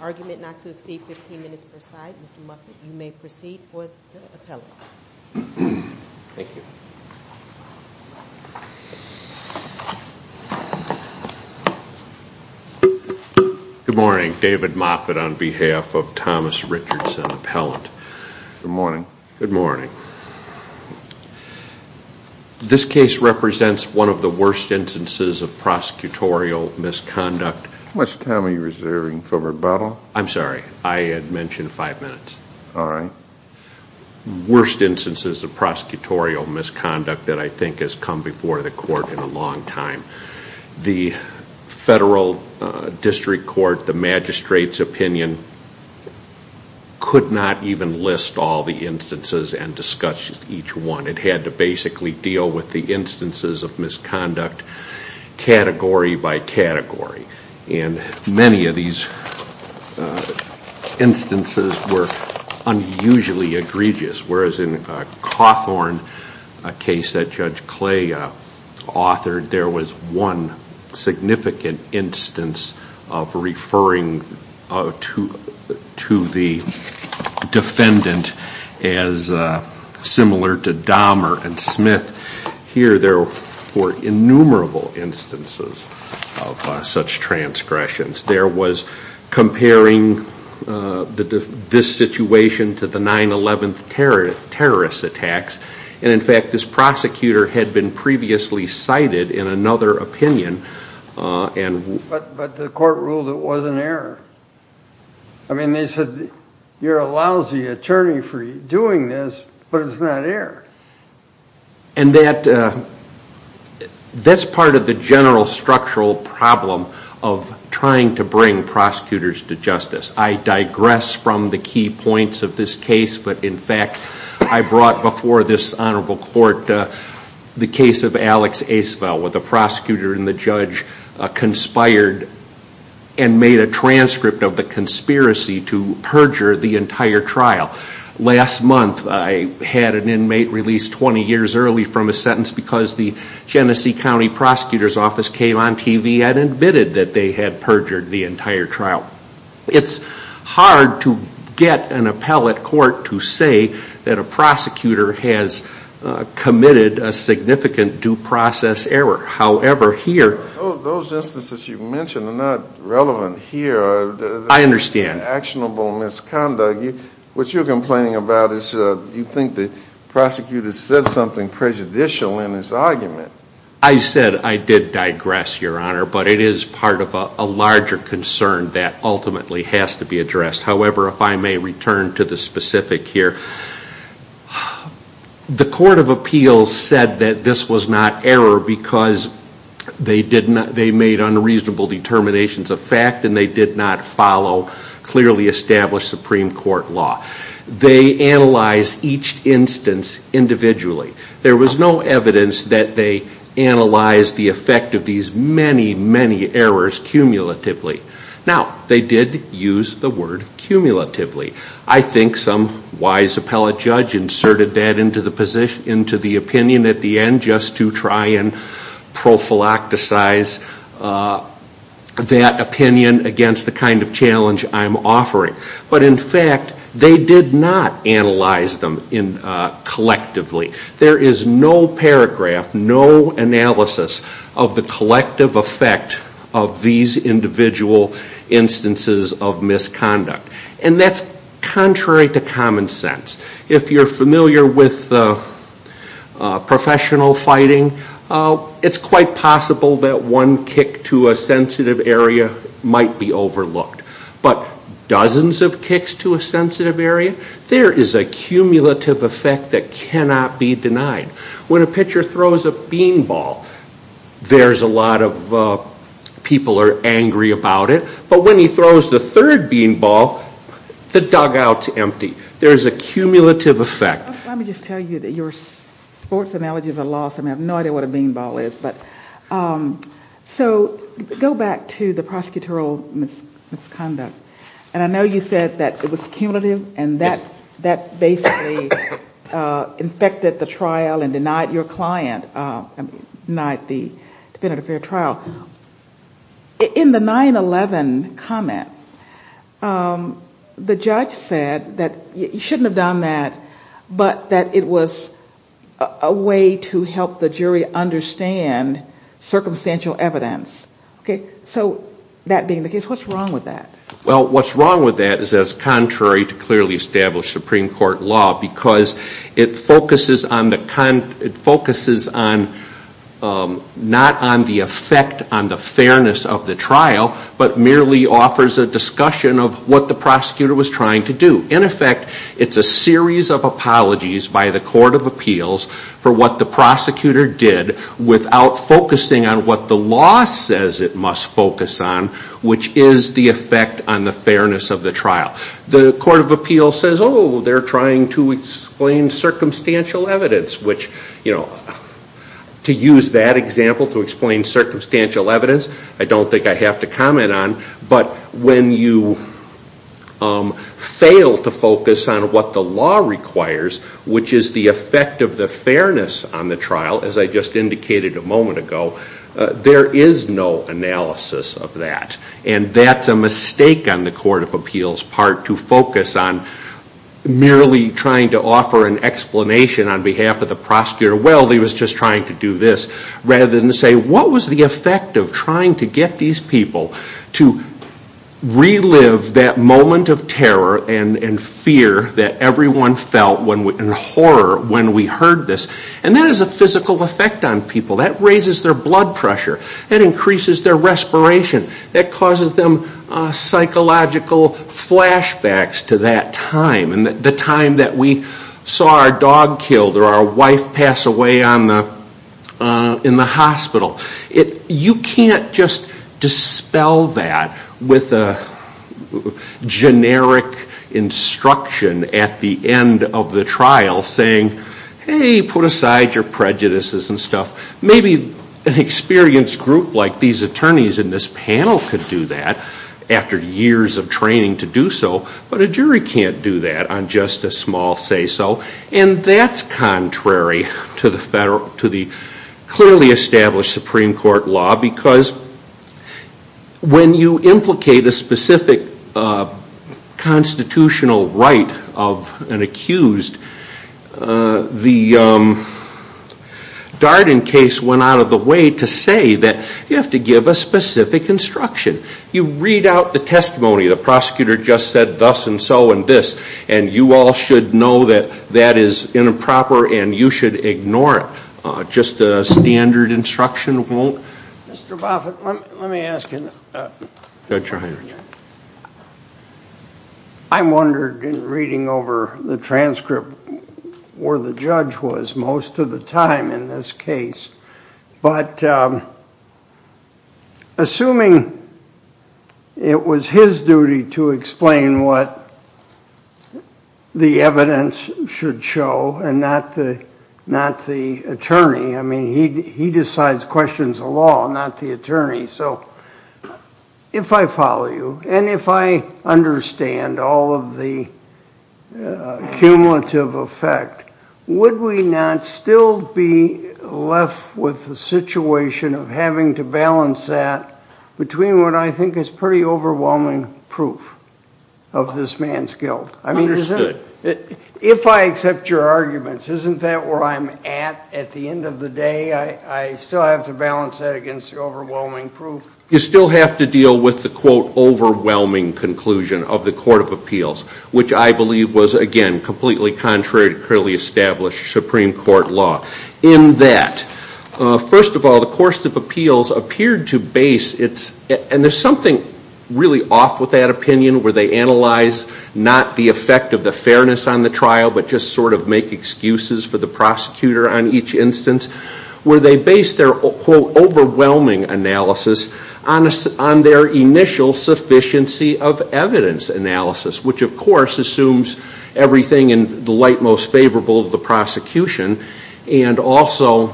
Argument not to exceed 15 minutes per side. Mr. Moffitt, you may proceed with the appellant. Good morning. David Moffitt on behalf of Thomas Richardson Appellant. Good morning. This case represents one of the worst instances of prosecutorial misconduct. How much time are you reserving for rebuttal? I'm sorry, I had mentioned five minutes. Worst instances of prosecutorial misconduct that I think has come before the court in a long time. The federal district court, the magistrate's opinion could not even list all the instances and discuss each one. It had to basically deal with the instances of misconduct category by category. And many of these instances were unusually egregious. Whereas in Cawthorn, a case that Judge Clay authored, there was one significant instance of referring to the defendant as similar to Dahmer and Smith. Here there were innumerable instances of such transgressions. There was comparing this situation to the 9-11 terrorist attacks. And in fact, this prosecutor had been previously cited in another opinion. But the court ruled it was an error. I mean, they said you're a lousy attorney for doing this, but it's not error. And that's part of the general structural problem of trying to bring prosecutors to justice. I digress from the key points of this case. But in fact, I brought before this honorable court the case of Alex Aceveld, where the prosecutor and the judge conspired and made a transcript of the conspiracy to perjure the entire trial. Last month I had an inmate released 20 years early from a sentence because the Genesee County Prosecutor's Office came on TV and admitted that they had perjured the entire trial. It's hard to get an appellate court to say that a prosecutor has committed a significant due process error. However, here... Those instances you mentioned are not relevant here. I understand. It's an actionable misconduct. What you're complaining about is you think the prosecutor said something prejudicial in his argument. I said I did digress, Your Honor, but it is part of a larger concern that ultimately has to be addressed. However, if I may return to the specific here. The Court of Appeals said that this was not error because they made unreasonable determinations of fact and they did not follow clearly established Supreme Court law. They analyzed each instance individually. There was no evidence that they analyzed the effect of these many, many errors cumulatively. Now, they did use the word cumulatively. I think some wise appellate judge inserted that into the opinion at the end just to try and prophylacticize that opinion against the kind of challenge I'm offering. But in fact, they did not analyze them collectively. There is no paragraph, no analysis of the collective effect of these individual instances of misconduct. And that's contrary to common sense. If you're familiar with professional fighting, it's quite possible that one kick to a sensitive area might be overlooked. But dozens of kicks to a sensitive area, there is a cumulative effect that cannot be denied. When a pitcher throws a bean ball, there's a lot of people are angry about it. But when he throws the third bean ball, the dugout's empty. There's a cumulative effect. Let me just tell you that your sports analogy is a loss. I mean, I have no idea what a bean ball is. So go back to the prosecutorial misconduct. And I know you said that it was cumulative and that basically infected the trial and denied your client, denied the defendant of fair trial. In the 9-11 comment, the judge said that you shouldn't have done that, but that it was a way to help the jury understand circumstantial evidence. So that being the case, what's wrong with that? Well, what's wrong with that is that it's contrary to clearly established Supreme Court law because it focuses on not on the effect on the fairness of the trial, but merely offers a discussion of what the prosecutor was trying to do. In effect, it's a series of apologies by the Court of Appeals for what the prosecutor did without focusing on what the law says it must focus on, which is the effect on the fairness of the trial. The Court of Appeals says, oh, they're trying to explain circumstantial evidence, which, you know, to use that example to explain circumstantial evidence, I don't think I have to comment on. But when you fail to focus on what the law requires, which is the effect of the fairness on the trial, as I just indicated a moment ago, there is no analysis of that. And that's a mistake on the Court of Appeals' part to focus on merely trying to offer an explanation on behalf of the prosecutor. Well, he was just trying to do this. Rather than say, what was the effect of trying to get these people to relive that moment of terror and fear that everyone felt in horror when we heard this? And that is a physical effect on people. That raises their blood pressure. That increases their respiration. That causes them psychological flashbacks to that time and the time that we saw our dog killed or our wife pass away in the hospital. You can't just dispel that with a generic instruction at the end of the trial saying, hey, put aside your prejudices and stuff. Maybe an experienced group like these attorneys in this panel could do that after years of training to do so. But a jury can't do that on just a small say-so. And that's contrary to the clearly established Supreme Court law because when you implicate a specific constitutional right of an accused, the Darden case went out of the way to say that you have to give a specific instruction. You read out the testimony. The prosecutor just said thus and so and this. And you all should know that that is improper and you should ignore it. Just a standard instruction won't. Mr. Boffitt, let me ask you. Judge Reinhart. I wondered in reading over the transcript where the judge was most of the time in this case. But assuming it was his duty to explain what the evidence should show and not the attorney. I mean, he decides questions of law, not the attorney. So if I follow you, and if I understand all of the cumulative effect, would we not still be left with the situation of having to balance that between what I think is pretty overwhelming proof of this man's guilt? Understood. If I accept your arguments, isn't that where I'm at at the end of the day? I still have to balance that against the overwhelming proof? You still have to deal with the, quote, overwhelming conclusion of the Court of Appeals, which I believe was, again, completely contrary to clearly established Supreme Court law in that, first of all, the Court of Appeals appeared to base its, and there's something really off with that opinion, where they analyze not the effect of the fairness on the trial, but just sort of make excuses for the prosecutor on each instance, where they base their, quote, overwhelming analysis on their initial sufficiency of evidence analysis, which, of course, assumes everything in the light most favorable of the prosecution and also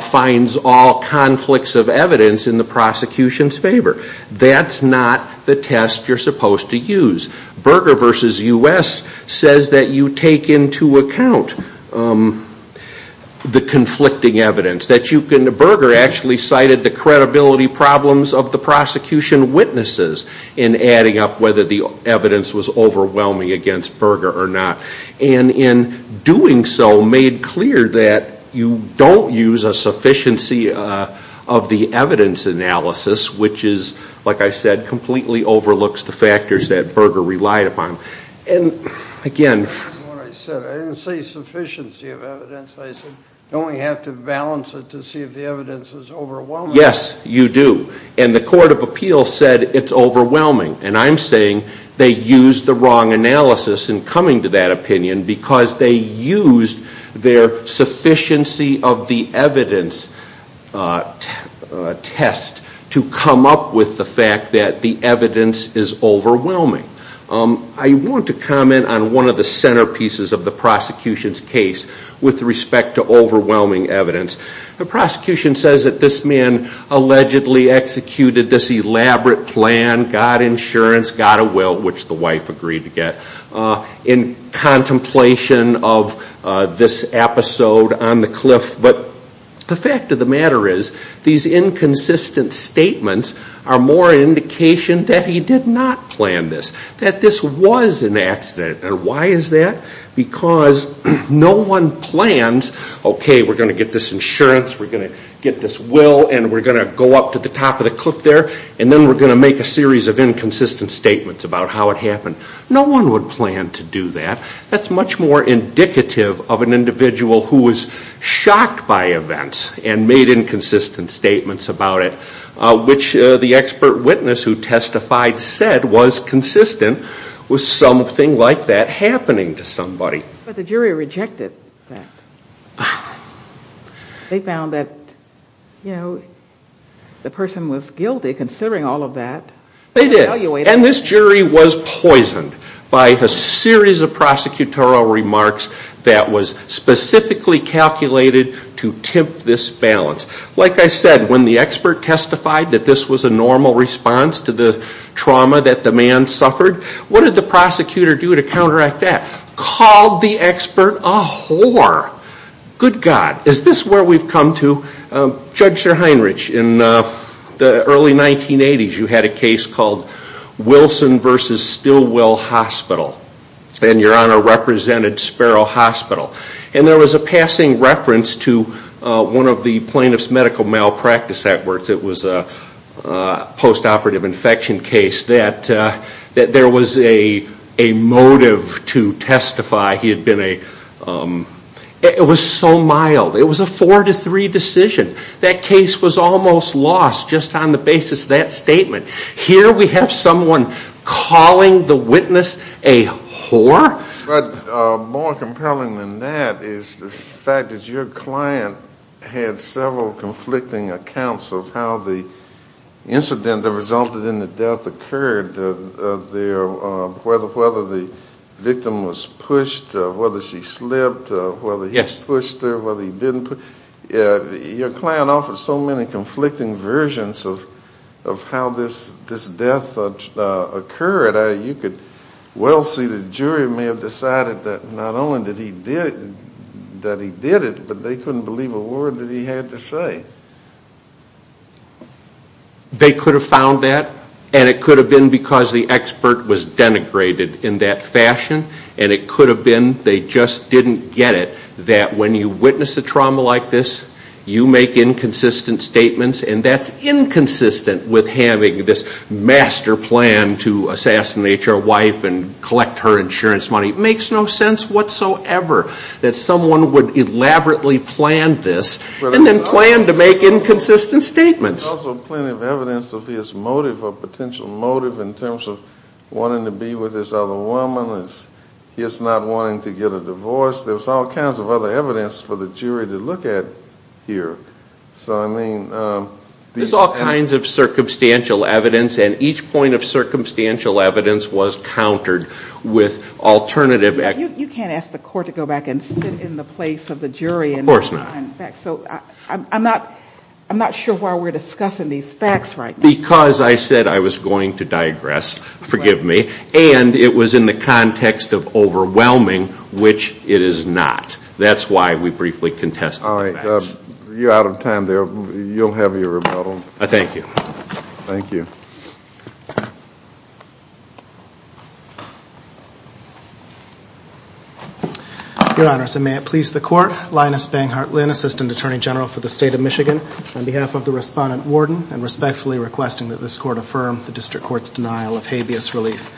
finds all conflicts of evidence in the prosecution's favor. That's not the test you're supposed to use. Berger v. U.S. says that you take into account the conflicting evidence. Berger actually cited the credibility problems of the prosecution witnesses in adding up whether the evidence was overwhelming against Berger or not. And in doing so, made clear that you don't use a sufficiency of the evidence analysis, which is, like I said, completely overlooks the factors that Berger relied upon. And, again, That's what I said. I didn't say sufficiency of evidence. I said you only have to balance it to see if the evidence is overwhelming. Yes, you do. And the Court of Appeals said it's overwhelming. And I'm saying they used the wrong analysis in coming to that opinion because they used their sufficiency of the evidence test to come up with the fact that the evidence is overwhelming. I want to comment on one of the centerpieces of the prosecution's case with respect to overwhelming evidence. The prosecution says that this man allegedly executed this elaborate plan, got insurance, got a will, which the wife agreed to get, in contemplation of this episode on the cliff. But the fact of the matter is, these inconsistent statements are more indication that he did not plan this, that this was an accident. And why is that? Because no one plans, okay, we're going to get this insurance, we're going to get this will, and we're going to go up to the top of the cliff there, and then we're going to make a series of inconsistent statements about how it happened. No one would plan to do that. That's much more indicative of an individual who was shocked by events and made inconsistent statements about it, which the expert witness who testified said was consistent with something like that happening to somebody. But the jury rejected that. They found that, you know, the person was guilty considering all of that. They did. And this jury was poisoned by a series of prosecutorial remarks that was specifically calculated to tempt this balance. Like I said, when the expert testified that this was a normal response to the trauma that the man suffered, what did the prosecutor do to counteract that? Called the expert a whore. Good God. Is this where we've come to? Judge Sir Heinrich, in the early 1980s, you had a case called Wilson v. Stillwell Hospital, and Your Honor represented Sparrow Hospital. And there was a passing reference to one of the plaintiff's medical malpractice efforts. It was a post-operative infection case that there was a motive to testify he had been a... It was so mild. It was a four-to-three decision. That case was almost lost just on the basis of that statement. Here we have someone calling the witness a whore? But more compelling than that is the fact that your client had several conflicting accounts of how the incident that resulted in the death occurred, whether the victim was pushed, whether she slipped, whether he pushed her, whether he didn't. Your client offered so many conflicting versions of how this death occurred. You could well see the jury may have decided that not only that he did it, but they couldn't believe a word that he had to say. They could have found that, and it could have been because the expert was denigrated in that fashion, and it could have been they just didn't get it, that when you witness a trauma like this, you make inconsistent statements, and that's inconsistent with having this master plan to assassinate your wife and collect her insurance money. It makes no sense whatsoever that someone would elaborately plan this and then plan to make inconsistent statements. There's also plenty of evidence of his motive, of potential motive in terms of wanting to be with this other woman, his not wanting to get a divorce. There's all kinds of other evidence for the jury to look at here. So, I mean... There's all kinds of circumstantial evidence, and each point of circumstantial evidence was countered with alternative... You can't ask the court to go back and sit in the place of the jury... Of course not. I'm not sure why we're discussing these facts right now. Because I said I was going to digress, forgive me, and it was in the context of overwhelming, which it is not. That's why we briefly contested the facts. All right. You're out of time there. You'll have your rebuttal. Thank you. Thank you. Your Honors, and may it please the Court, Linus Banghart Lynn, Assistant Attorney General for the State of Michigan, on behalf of the Respondent Warden, and respectfully requesting that this Court affirm the District Court's denial of habeas relief.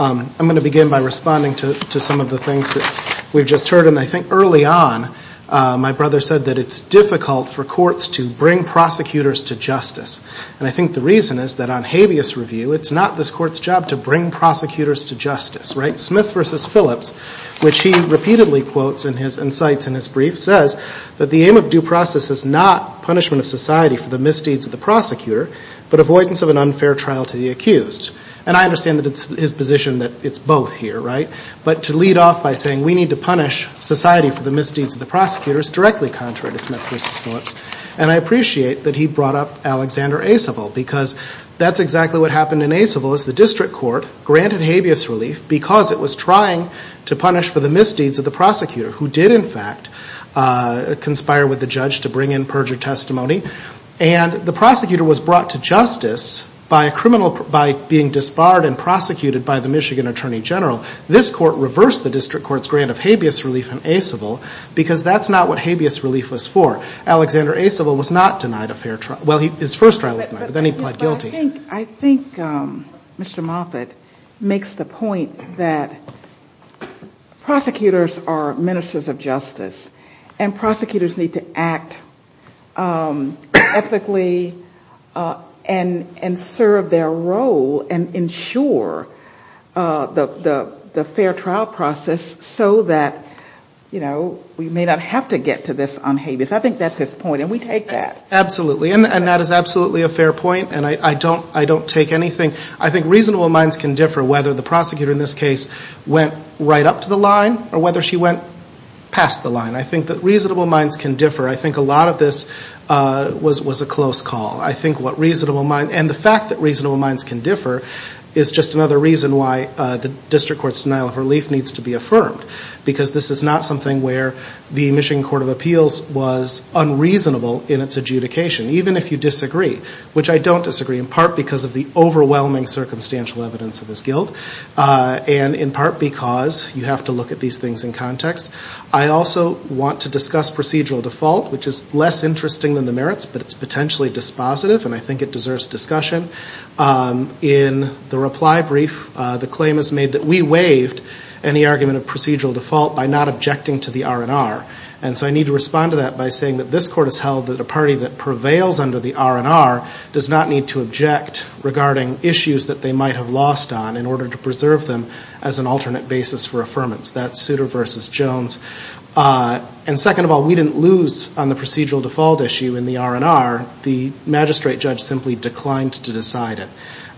I'm going to begin by responding to some of the things that we've just heard, and I think early on my brother said that it's difficult for courts to bring prosecutors to justice. And I think the reason is that on habeas review, it's not this Court's job to bring prosecutors to justice, right? Smith v. Phillips, which he repeatedly quotes in his insights in his brief, says that the aim of due process is not punishment of society for the misdeeds of the prosecutor, but avoidance of an unfair trial to the accused. And I understand that it's his position that it's both here, right? But to lead off by saying we need to punish society for the misdeeds of the prosecutors, is directly contrary to Smith v. Phillips. And I appreciate that he brought up Alexander Acevil, because that's exactly what happened in Acevil is the District Court granted habeas relief because it was trying to punish for the misdeeds of the prosecutor, who did in fact conspire with the judge to bring in perjured testimony. And the prosecutor was brought to justice by a criminal, by being disbarred and prosecuted by the Michigan Attorney General. This Court reversed the District Court's grant of habeas relief in Acevil because that's not what habeas relief was for. Alexander Acevil was not denied a fair trial. Well, his first trial was denied, but then he pled guilty. But I think Mr. Moffitt makes the point that prosecutors are ministers of justice, and prosecutors need to act ethically and serve their role and ensure the fair trial process so that we may not have to get to this unhabeas. I think that's his point, and we take that. Absolutely, and that is absolutely a fair point, and I don't take anything. I think reasonable minds can differ whether the prosecutor in this case went right up to the line or whether she went past the line. I think that reasonable minds can differ. I think a lot of this was a close call. And the fact that reasonable minds can differ is just another reason why the District Court's denial of relief needs to be affirmed because this is not something where the Michigan Court of Appeals was unreasonable in its adjudication, even if you disagree, which I don't disagree, in part because of the overwhelming circumstantial evidence of this guilt and in part because you have to look at these things in context. I also want to discuss procedural default, which is less interesting than the merits, but it's potentially dispositive, and I think it deserves discussion. In the reply brief, the claim is made that we waived any argument of procedural default by not objecting to the R&R. And so I need to respond to that by saying that this Court has held that a party that prevails under the R&R does not need to object regarding issues that they might have lost on in order to preserve them as an alternate basis for affirmance. That's Souter v. Jones. And second of all, we didn't lose on the procedural default issue in the R&R. The magistrate judge simply declined to decide it.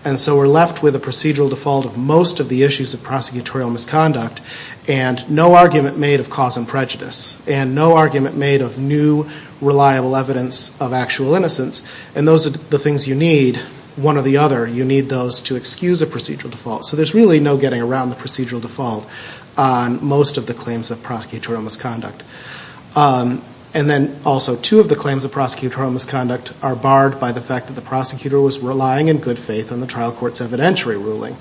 And so we're left with a procedural default of most of the issues of prosecutorial misconduct and no argument made of cause and prejudice and no argument made of new, reliable evidence of actual innocence. And those are the things you need, one or the other. You need those to excuse a procedural default. So there's really no getting around the procedural default on most of the claims of prosecutorial misconduct. And then also two of the claims of prosecutorial misconduct are barred by the fact that the prosecutor was relying in good faith on the trial court's evidentiary ruling.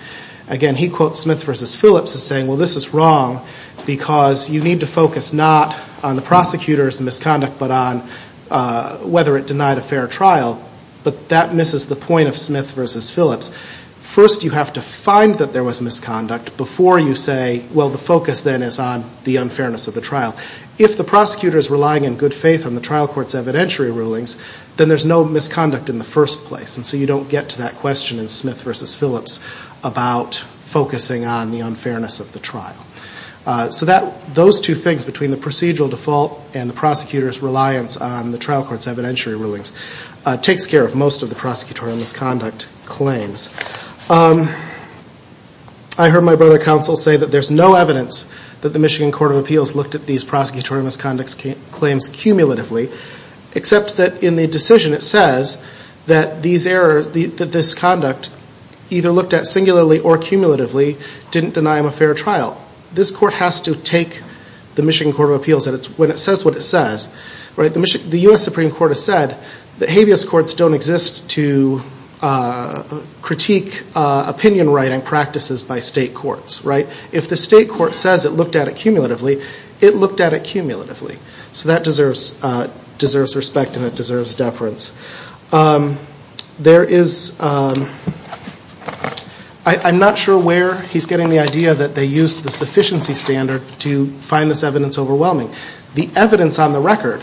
Again, he quotes Smith v. Phillips as saying, well, this is wrong because you need to focus not on the prosecutor's misconduct but on whether it denied a fair trial. But that misses the point of Smith v. Phillips. First you have to find that there was misconduct before you say, well, the focus then is on the unfairness of the trial. If the prosecutor is relying in good faith on the trial court's evidentiary rulings, then there's no misconduct in the first place. And so you don't get to that question in Smith v. Phillips about focusing on the unfairness of the trial. So those two things, between the procedural default and the prosecutor's reliance on the trial court's evidentiary rulings, takes care of most of the prosecutorial misconduct claims. I heard my brother counsel say that there's no evidence that the Michigan Court of Appeals looked at these prosecutorial misconduct claims cumulatively, except that in the decision it says that these errors, that this conduct, either looked at singularly or cumulatively, didn't deny him a fair trial. This court has to take the Michigan Court of Appeals when it says what it says. The U.S. Supreme Court has said that habeas courts don't exist to critique opinion writing practices by state courts. If the state court says it looked at it cumulatively, it looked at it cumulatively. So that deserves respect and it deserves deference. I'm not sure where he's getting the idea that they used the sufficiency standard to find this evidence overwhelming. The evidence on the record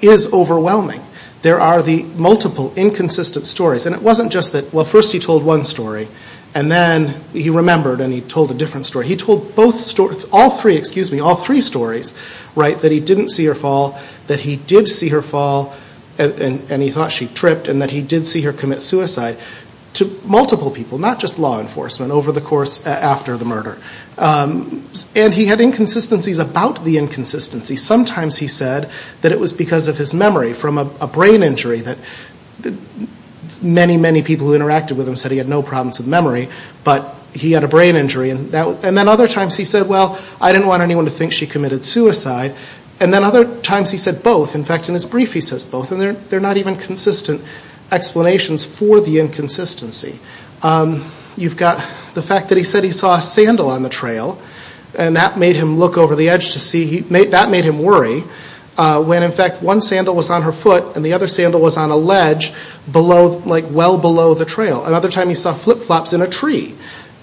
is overwhelming. There are the multiple inconsistent stories. And it wasn't just that, well, first he told one story, and then he remembered and he told a different story. He told both stories, all three, excuse me, all three stories, right, that he didn't see her fall, that he did see her fall and he thought she tripped, and that he did see her commit suicide, to multiple people, not just law enforcement, over the course, after the murder. And he had inconsistencies about the inconsistency. Sometimes he said that it was because of his memory from a brain injury, that many, many people who interacted with him said he had no problems with memory, but he had a brain injury. And then other times he said, well, I didn't want anyone to think she committed suicide. And then other times he said both. In fact, in his brief he says both, and there are not even consistent explanations for the inconsistency. You've got the fact that he said he saw a sandal on the trail, and that made him look over the edge to see, that made him worry, when in fact one sandal was on her foot and the other sandal was on a ledge, below, like well below the trail. Another time he saw flip-flops in a tree.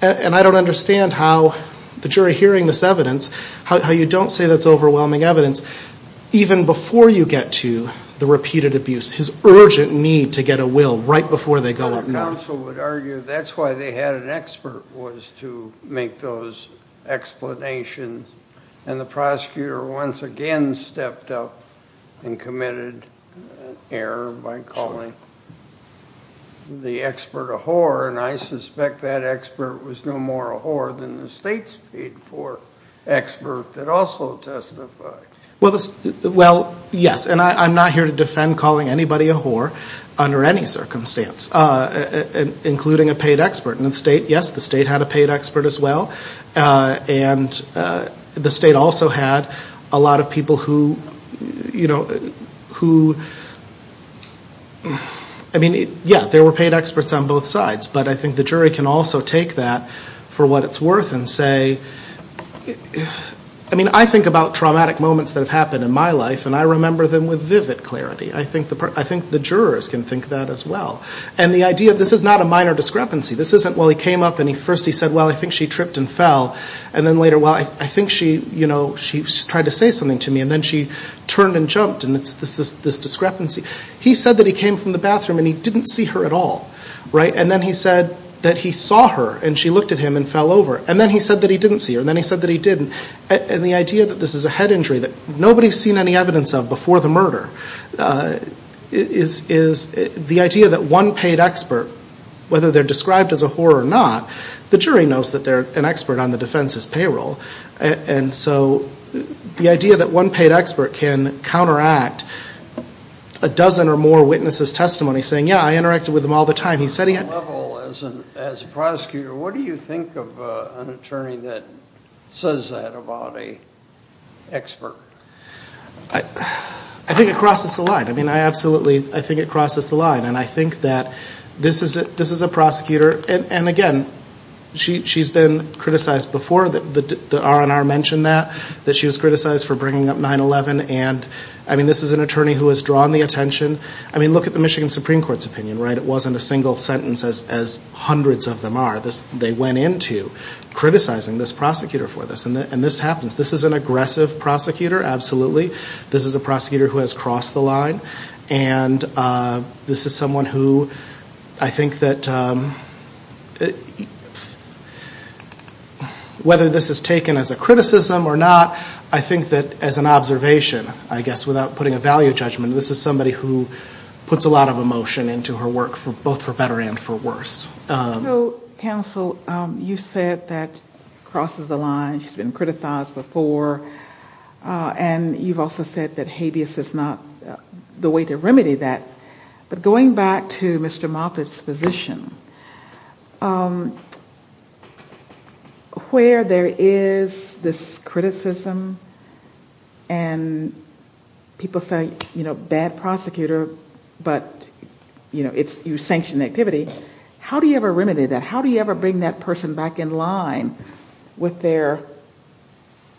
And I don't understand how the jury hearing this evidence, how you don't say that's overwhelming evidence, even before you get to the repeated abuse, his urgent need to get a will right before they go up north. Your counsel would argue that's why they had an expert was to make those explanations, and the prosecutor once again stepped up and committed an error by calling the expert a whore, and I suspect that expert was no more a whore than the state's paid for expert that also testified. Well, yes, and I'm not here to defend calling anybody a whore under any circumstance. Including a paid expert in the state. Yes, the state had a paid expert as well, and the state also had a lot of people who, you know, who, I mean, yeah, there were paid experts on both sides, but I think the jury can also take that for what it's worth and say, I mean, I think about traumatic moments that have happened in my life, and I remember them with vivid clarity. I think the jurors can think that as well. And the idea, this is not a minor discrepancy. This isn't, well, he came up and first he said, well, I think she tripped and fell, and then later, well, I think she, you know, she tried to say something to me, and then she turned and jumped, and it's this discrepancy. He said that he came from the bathroom and he didn't see her at all, right? And then he said that he saw her, and she looked at him and fell over. And then he said that he didn't see her, and then he said that he did. And the idea that this is a head injury that nobody's seen any evidence of before the murder is the idea that one paid expert, whether they're described as a whore or not, the jury knows that they're an expert on the defense's payroll. And so the idea that one paid expert can counteract a dozen or more witnesses' testimony, saying, yeah, I interacted with them all the time. As a prosecutor, what do you think of an attorney that says that about an expert? I think it crosses the line. I mean, I absolutely, I think it crosses the line. And I think that this is a prosecutor, and again, she's been criticized before. The R&R mentioned that, that she was criticized for bringing up 9-11. And, I mean, this is an attorney who has drawn the attention. I mean, look at the Michigan Supreme Court's opinion, right? It wasn't a single sentence, as hundreds of them are. They went into criticizing this prosecutor for this. And this happens. This is an aggressive prosecutor, absolutely. This is a prosecutor who has crossed the line. And this is someone who I think that whether this is taken as a criticism or not, I think that as an observation, I guess, without putting a value judgment, this is somebody who puts a lot of emotion into her work, both for better and for worse. So, counsel, you said that crosses the line. She's been criticized before. And you've also said that habeas is not the way to remedy that. But going back to Mr. Moffitt's position, where there is this criticism and people say, you know, bad prosecutor, but, you know, it's sanctioned activity, how do you ever remedy that? How do you ever bring that person back in line with their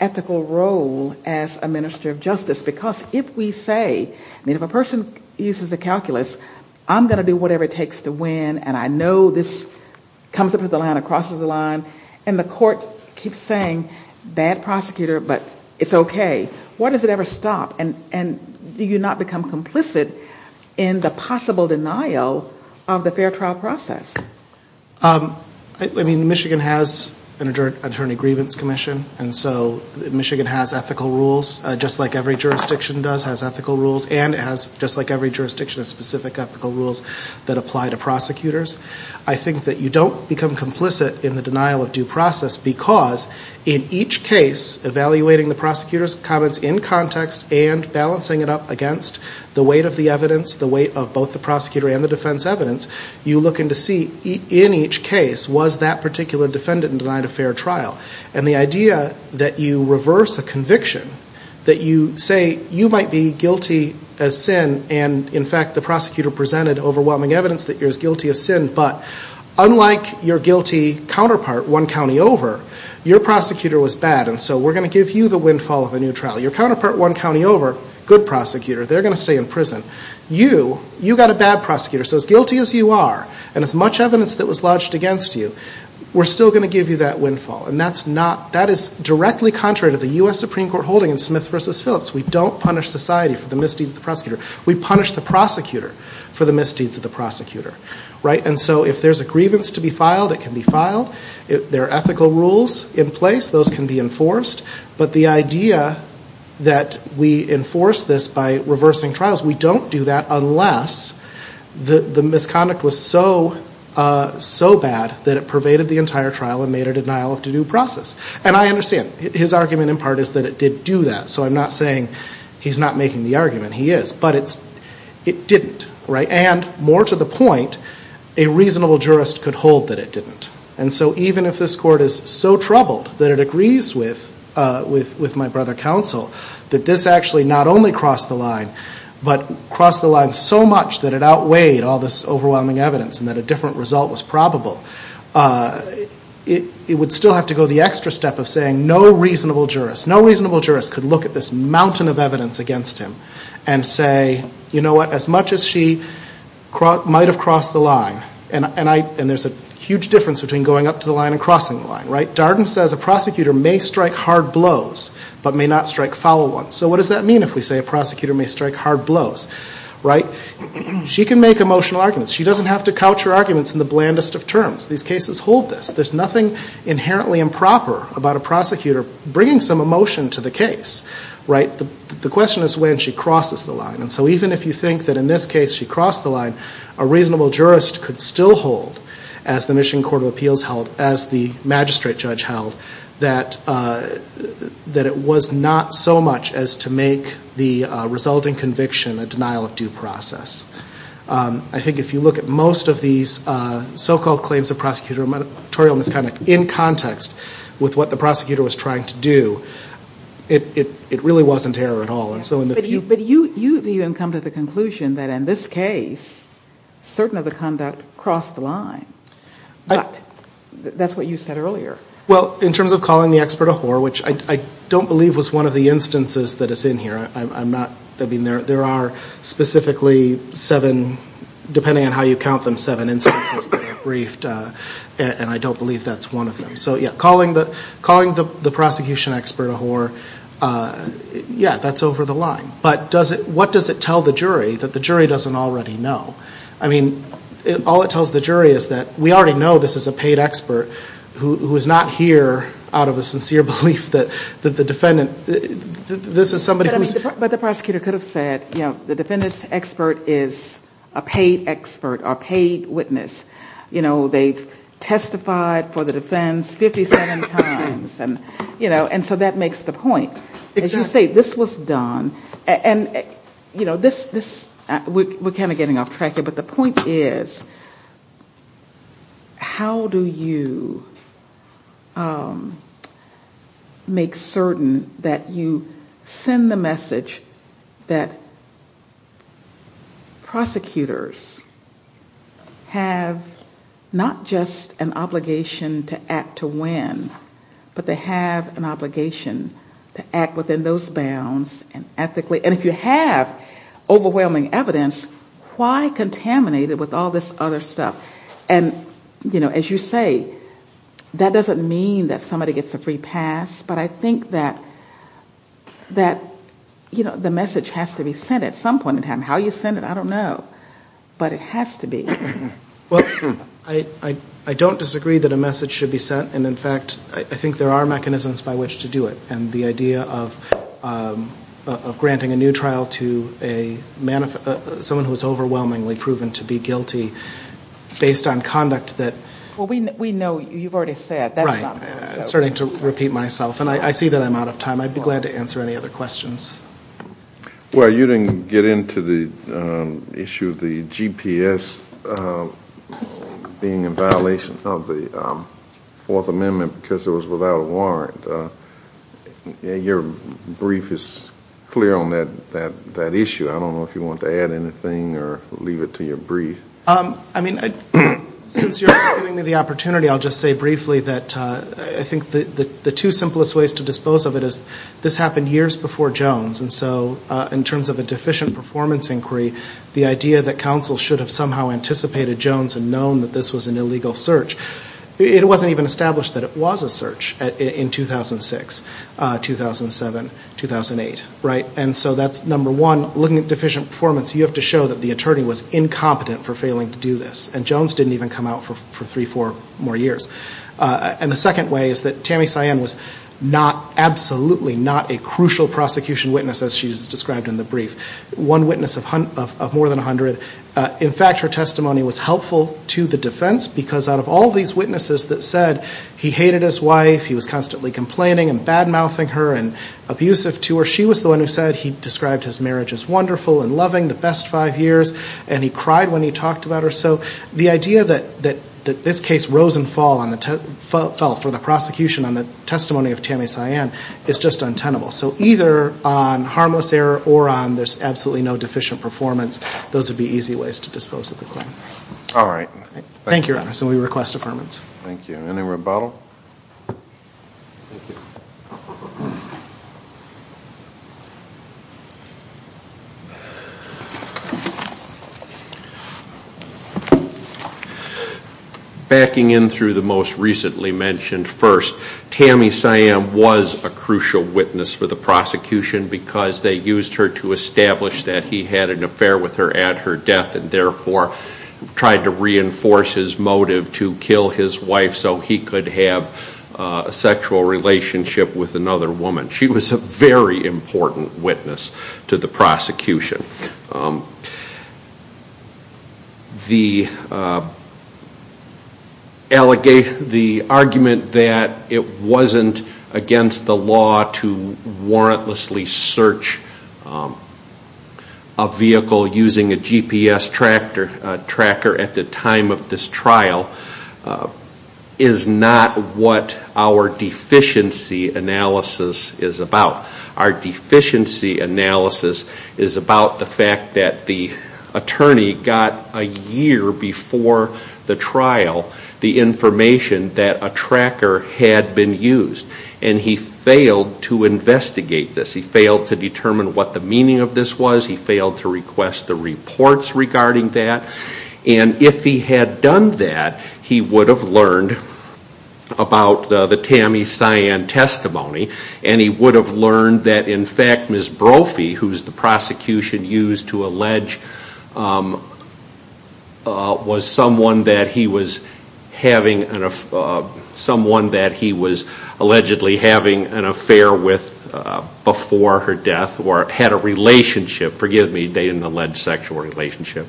ethical role as a minister of justice? Because if we say, I mean, if a person uses a calculus, I'm going to do whatever it takes to win, and I know this comes up with the line or crosses the line, and the court keeps saying, bad prosecutor, but it's okay, why does it ever stop? And do you not become complicit in the possible denial of the fair trial process? I mean, Michigan has an attorney grievance commission, and so Michigan has ethical rules, just like every jurisdiction does, has ethical rules, and it has, just like every jurisdiction, specific ethical rules that apply to prosecutors. I think that you don't become complicit in the denial of due process, because in each case, evaluating the prosecutor's comments in context and balancing it up against the weight of the evidence, the weight of both the prosecutor and the defense evidence, you look in to see, in each case, was that particular defendant denied a fair trial? And the idea that you reverse a conviction, that you say you might be guilty as sin, and in fact, the prosecutor presented overwhelming evidence that you're as guilty as sin, but unlike your guilty counterpart, one county over, your prosecutor was bad, and so we're going to give you the windfall of a new trial. Your counterpart, one county over, good prosecutor, they're going to stay in prison. You, you got a bad prosecutor, so as guilty as you are, and as much evidence that was lodged against you, we're still going to give you that windfall, and that is directly contrary to the U.S. Supreme Court holding in Smith v. Phillips. We don't punish society for the misdeeds of the prosecutor. We punish the prosecutor for the misdeeds of the prosecutor, right? And so if there's a grievance to be filed, it can be filed. There are ethical rules in place. Those can be enforced, but the idea that we enforce this by reversing trials, we don't do that unless the misconduct was so, so bad that it pervaded the entire trial and made a denial of due due process, and I understand. His argument in part is that it did do that, so I'm not saying he's not making the argument. He is, but it didn't, right? And more to the point, a reasonable jurist could hold that it didn't, and so even if this Court is so troubled that it agrees with my brother counsel that this actually not only crossed the line but crossed the line so much that it outweighed all this overwhelming evidence and that a different result was probable, it would still have to go the extra step of saying no reasonable jurist, no reasonable jurist could look at this mountain of evidence against him and say, you know what, as much as she might have crossed the line, and there's a huge difference between going up to the line and crossing the line, right? Darden says a prosecutor may strike hard blows but may not strike foul ones. So what does that mean if we say a prosecutor may strike hard blows, right? She can make emotional arguments. She doesn't have to couch her arguments in the blandest of terms. These cases hold this. There's nothing inherently improper about a prosecutor bringing some emotion to the case, right? The question is when she crosses the line, and so even if you think that in this case she crossed the line, a reasonable jurist could still hold, as the Michigan Court of Appeals held, as the magistrate judge held, that it was not so much as to make the resulting conviction a denial of due process. I think if you look at most of these so-called claims of prosecutorial misconduct in context with what the prosecutor was trying to do, it really wasn't error at all. But you even come to the conclusion that in this case certain of the conduct crossed the line. But that's what you said earlier. Well, in terms of calling the expert a whore, which I don't believe was one of the instances that is in here. I mean, there are specifically seven, depending on how you count them, seven instances that are briefed, and I don't believe that's one of them. So, yeah, calling the prosecution expert a whore, yeah, that's over the line. But what does it tell the jury that the jury doesn't already know? I mean, all it tells the jury is that we already know this is a paid expert who is not here out of a sincere belief that the defendant, this is somebody who's... But the prosecutor could have said, you know, the defendant's expert is a paid expert or paid witness. You know, they've testified for the defense 57 times, and, you know, and so that makes the point. As you say, this was done. And, you know, this, we're kind of getting off track here, but the point is how do you make certain that you send the message that prosecutors have not just an obligation to act to win, but they have an obligation to act within those bounds and ethically. And if you have overwhelming evidence, why contaminate it with all this other stuff? And, you know, as you say, that doesn't mean that somebody gets a free pass, but I think that, you know, the message has to be sent at some point in time. How you send it, I don't know, but it has to be. Well, I don't disagree that a message should be sent. And, in fact, I think there are mechanisms by which to do it. And the idea of granting a new trial to someone who is overwhelmingly proven to be guilty based on conduct that... Well, we know, you've already said. Right. I'm starting to repeat myself, and I see that I'm out of time. I'd be glad to answer any other questions. Well, you didn't get into the issue of the GPS being in violation of the Fourth Amendment because it was without a warrant. Your brief is clear on that issue. I don't know if you want to add anything or leave it to your brief. I mean, since you're giving me the opportunity, I'll just say briefly that I think the two simplest ways to dispose of it is this happened years before Jones, and so in terms of a deficient performance inquiry, the idea that counsel should have somehow anticipated Jones and known that this was an illegal search, it wasn't even established that it was a search in 2006, 2007, 2008, right? And so that's, number one, looking at deficient performance, you have to show that the attorney was incompetent for failing to do this. And Jones didn't even come out for three, four more years. And the second way is that Tammy Cyan was absolutely not a crucial prosecution witness, as she's described in the brief, one witness of more than 100. In fact, her testimony was helpful to the defense because out of all these witnesses that said he hated his wife, he was constantly complaining and bad-mouthing her and abusive to her, she was the one who said he described his marriage as wonderful and loving, the best five years, and he cried when he talked about her. So the idea that this case rose and fell for the prosecution on the testimony of Tammy Cyan is just untenable. So either on harmless error or on there's absolutely no deficient performance, those would be easy ways to dispose of the claim. All right. Thank you, Your Honor. So we request affirmance. Thank you. Any rebuttal? Thank you. Backing in through the most recently mentioned first, Tammy Cyan was a crucial witness for the prosecution because they used her to establish that he had an affair with her at her death and therefore tried to reinforce his motive to kill his wife so he could have a sexual relationship with another woman. She was a very important witness to the prosecution. The argument that it wasn't against the law to warrantlessly search a vehicle using a GPS tracker at the time of this trial is not what our deficiency analysis is about. Our deficiency analysis is about the fact that the attorney got a year before the trial the information that a tracker had been used, and he failed to investigate this. He failed to determine what the meaning of this was. He failed to request the reports regarding that. And if he had done that, he would have learned about the Tammy Cyan testimony, and he would have learned that, in fact, Ms. Brophy, who's the prosecution used to allege, was someone that he was allegedly having an affair with before her death or had a relationship, forgive me, they didn't allege sexual relationship,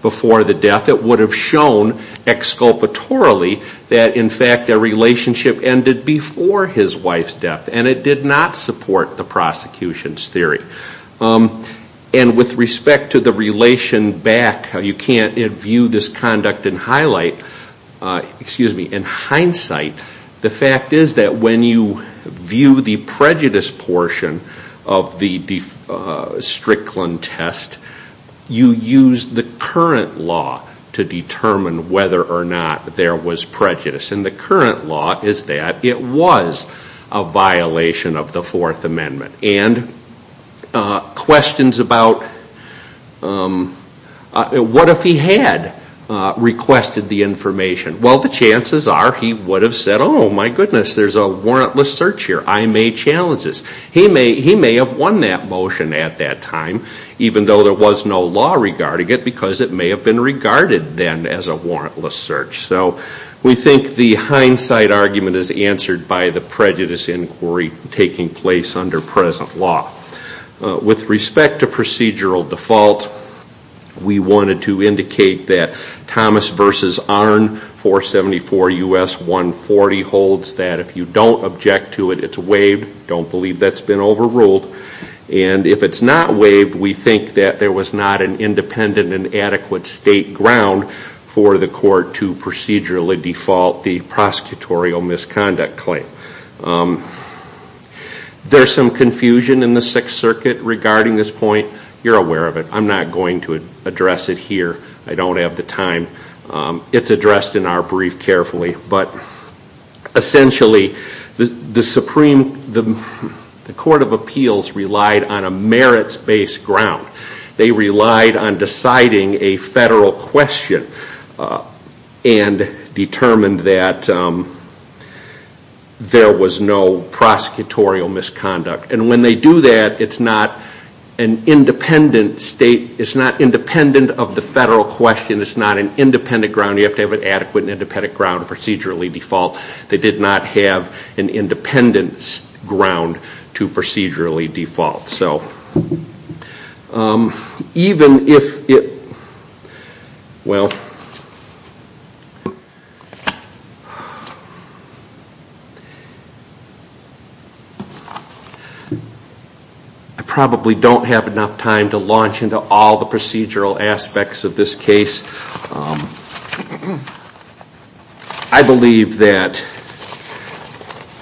before the death. But that would have shown exculpatorily that, in fact, their relationship ended before his wife's death, and it did not support the prosecution's theory. And with respect to the relation back, you can't view this conduct and highlight, excuse me, in hindsight, the fact is that when you view the prejudice portion of the Strickland test, you use the current law to determine whether or not there was prejudice. And the current law is that it was a violation of the Fourth Amendment. And questions about what if he had requested the information? Well, the chances are he would have said, oh, my goodness, there's a warrantless search here. I made challenges. He may have won that motion at that time, even though there was no law regarding it, because it may have been regarded then as a warrantless search. So we think the hindsight argument is answered by the prejudice inquiry taking place under present law. With respect to procedural default, we wanted to indicate that Thomas v. Arnn, 474 U.S. 140, holds that if you don't object to it, it's waived. Don't believe that's been overruled. And if it's not waived, we think that there was not an independent and adequate state ground for the court to procedurally default the prosecutorial misconduct claim. There's some confusion in the Sixth Circuit regarding this point. You're aware of it. I'm not going to address it here. I don't have the time. It's addressed in our brief carefully. But essentially, the Supreme Court of Appeals relied on a merits-based ground. They relied on deciding a federal question and determined that there was no prosecutorial misconduct. And when they do that, it's not independent of the federal question. It's not an independent ground. You have to have an adequate and independent ground to procedurally default. They did not have an independent ground to procedurally default. I probably don't have enough time to launch into all the procedural aspects of this case. I believe that,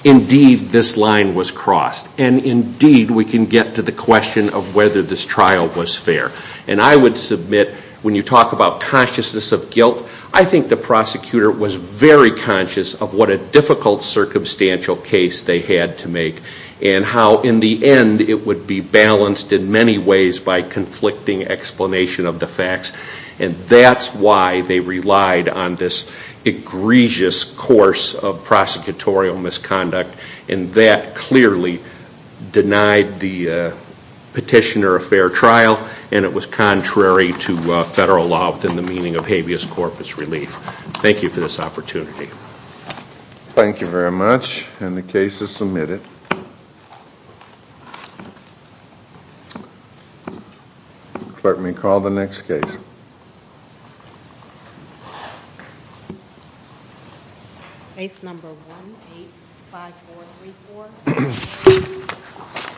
indeed, this line was crossed. And, indeed, we can get to the question of whether this trial was fair. And I would submit, when you talk about consciousness of guilt, I think the prosecutor was very conscious of what a difficult circumstantial case they had to make. And how, in the end, it would be balanced in many ways by conflicting explanation of the facts. And that's why they relied on this egregious course of prosecutorial misconduct. And that clearly denied the petitioner a fair trial. And it was contrary to federal law within the meaning of habeas corpus relief. Thank you for this opportunity. Thank you very much. And the case is submitted. Thank you. Let me call the next case. Case number 185434.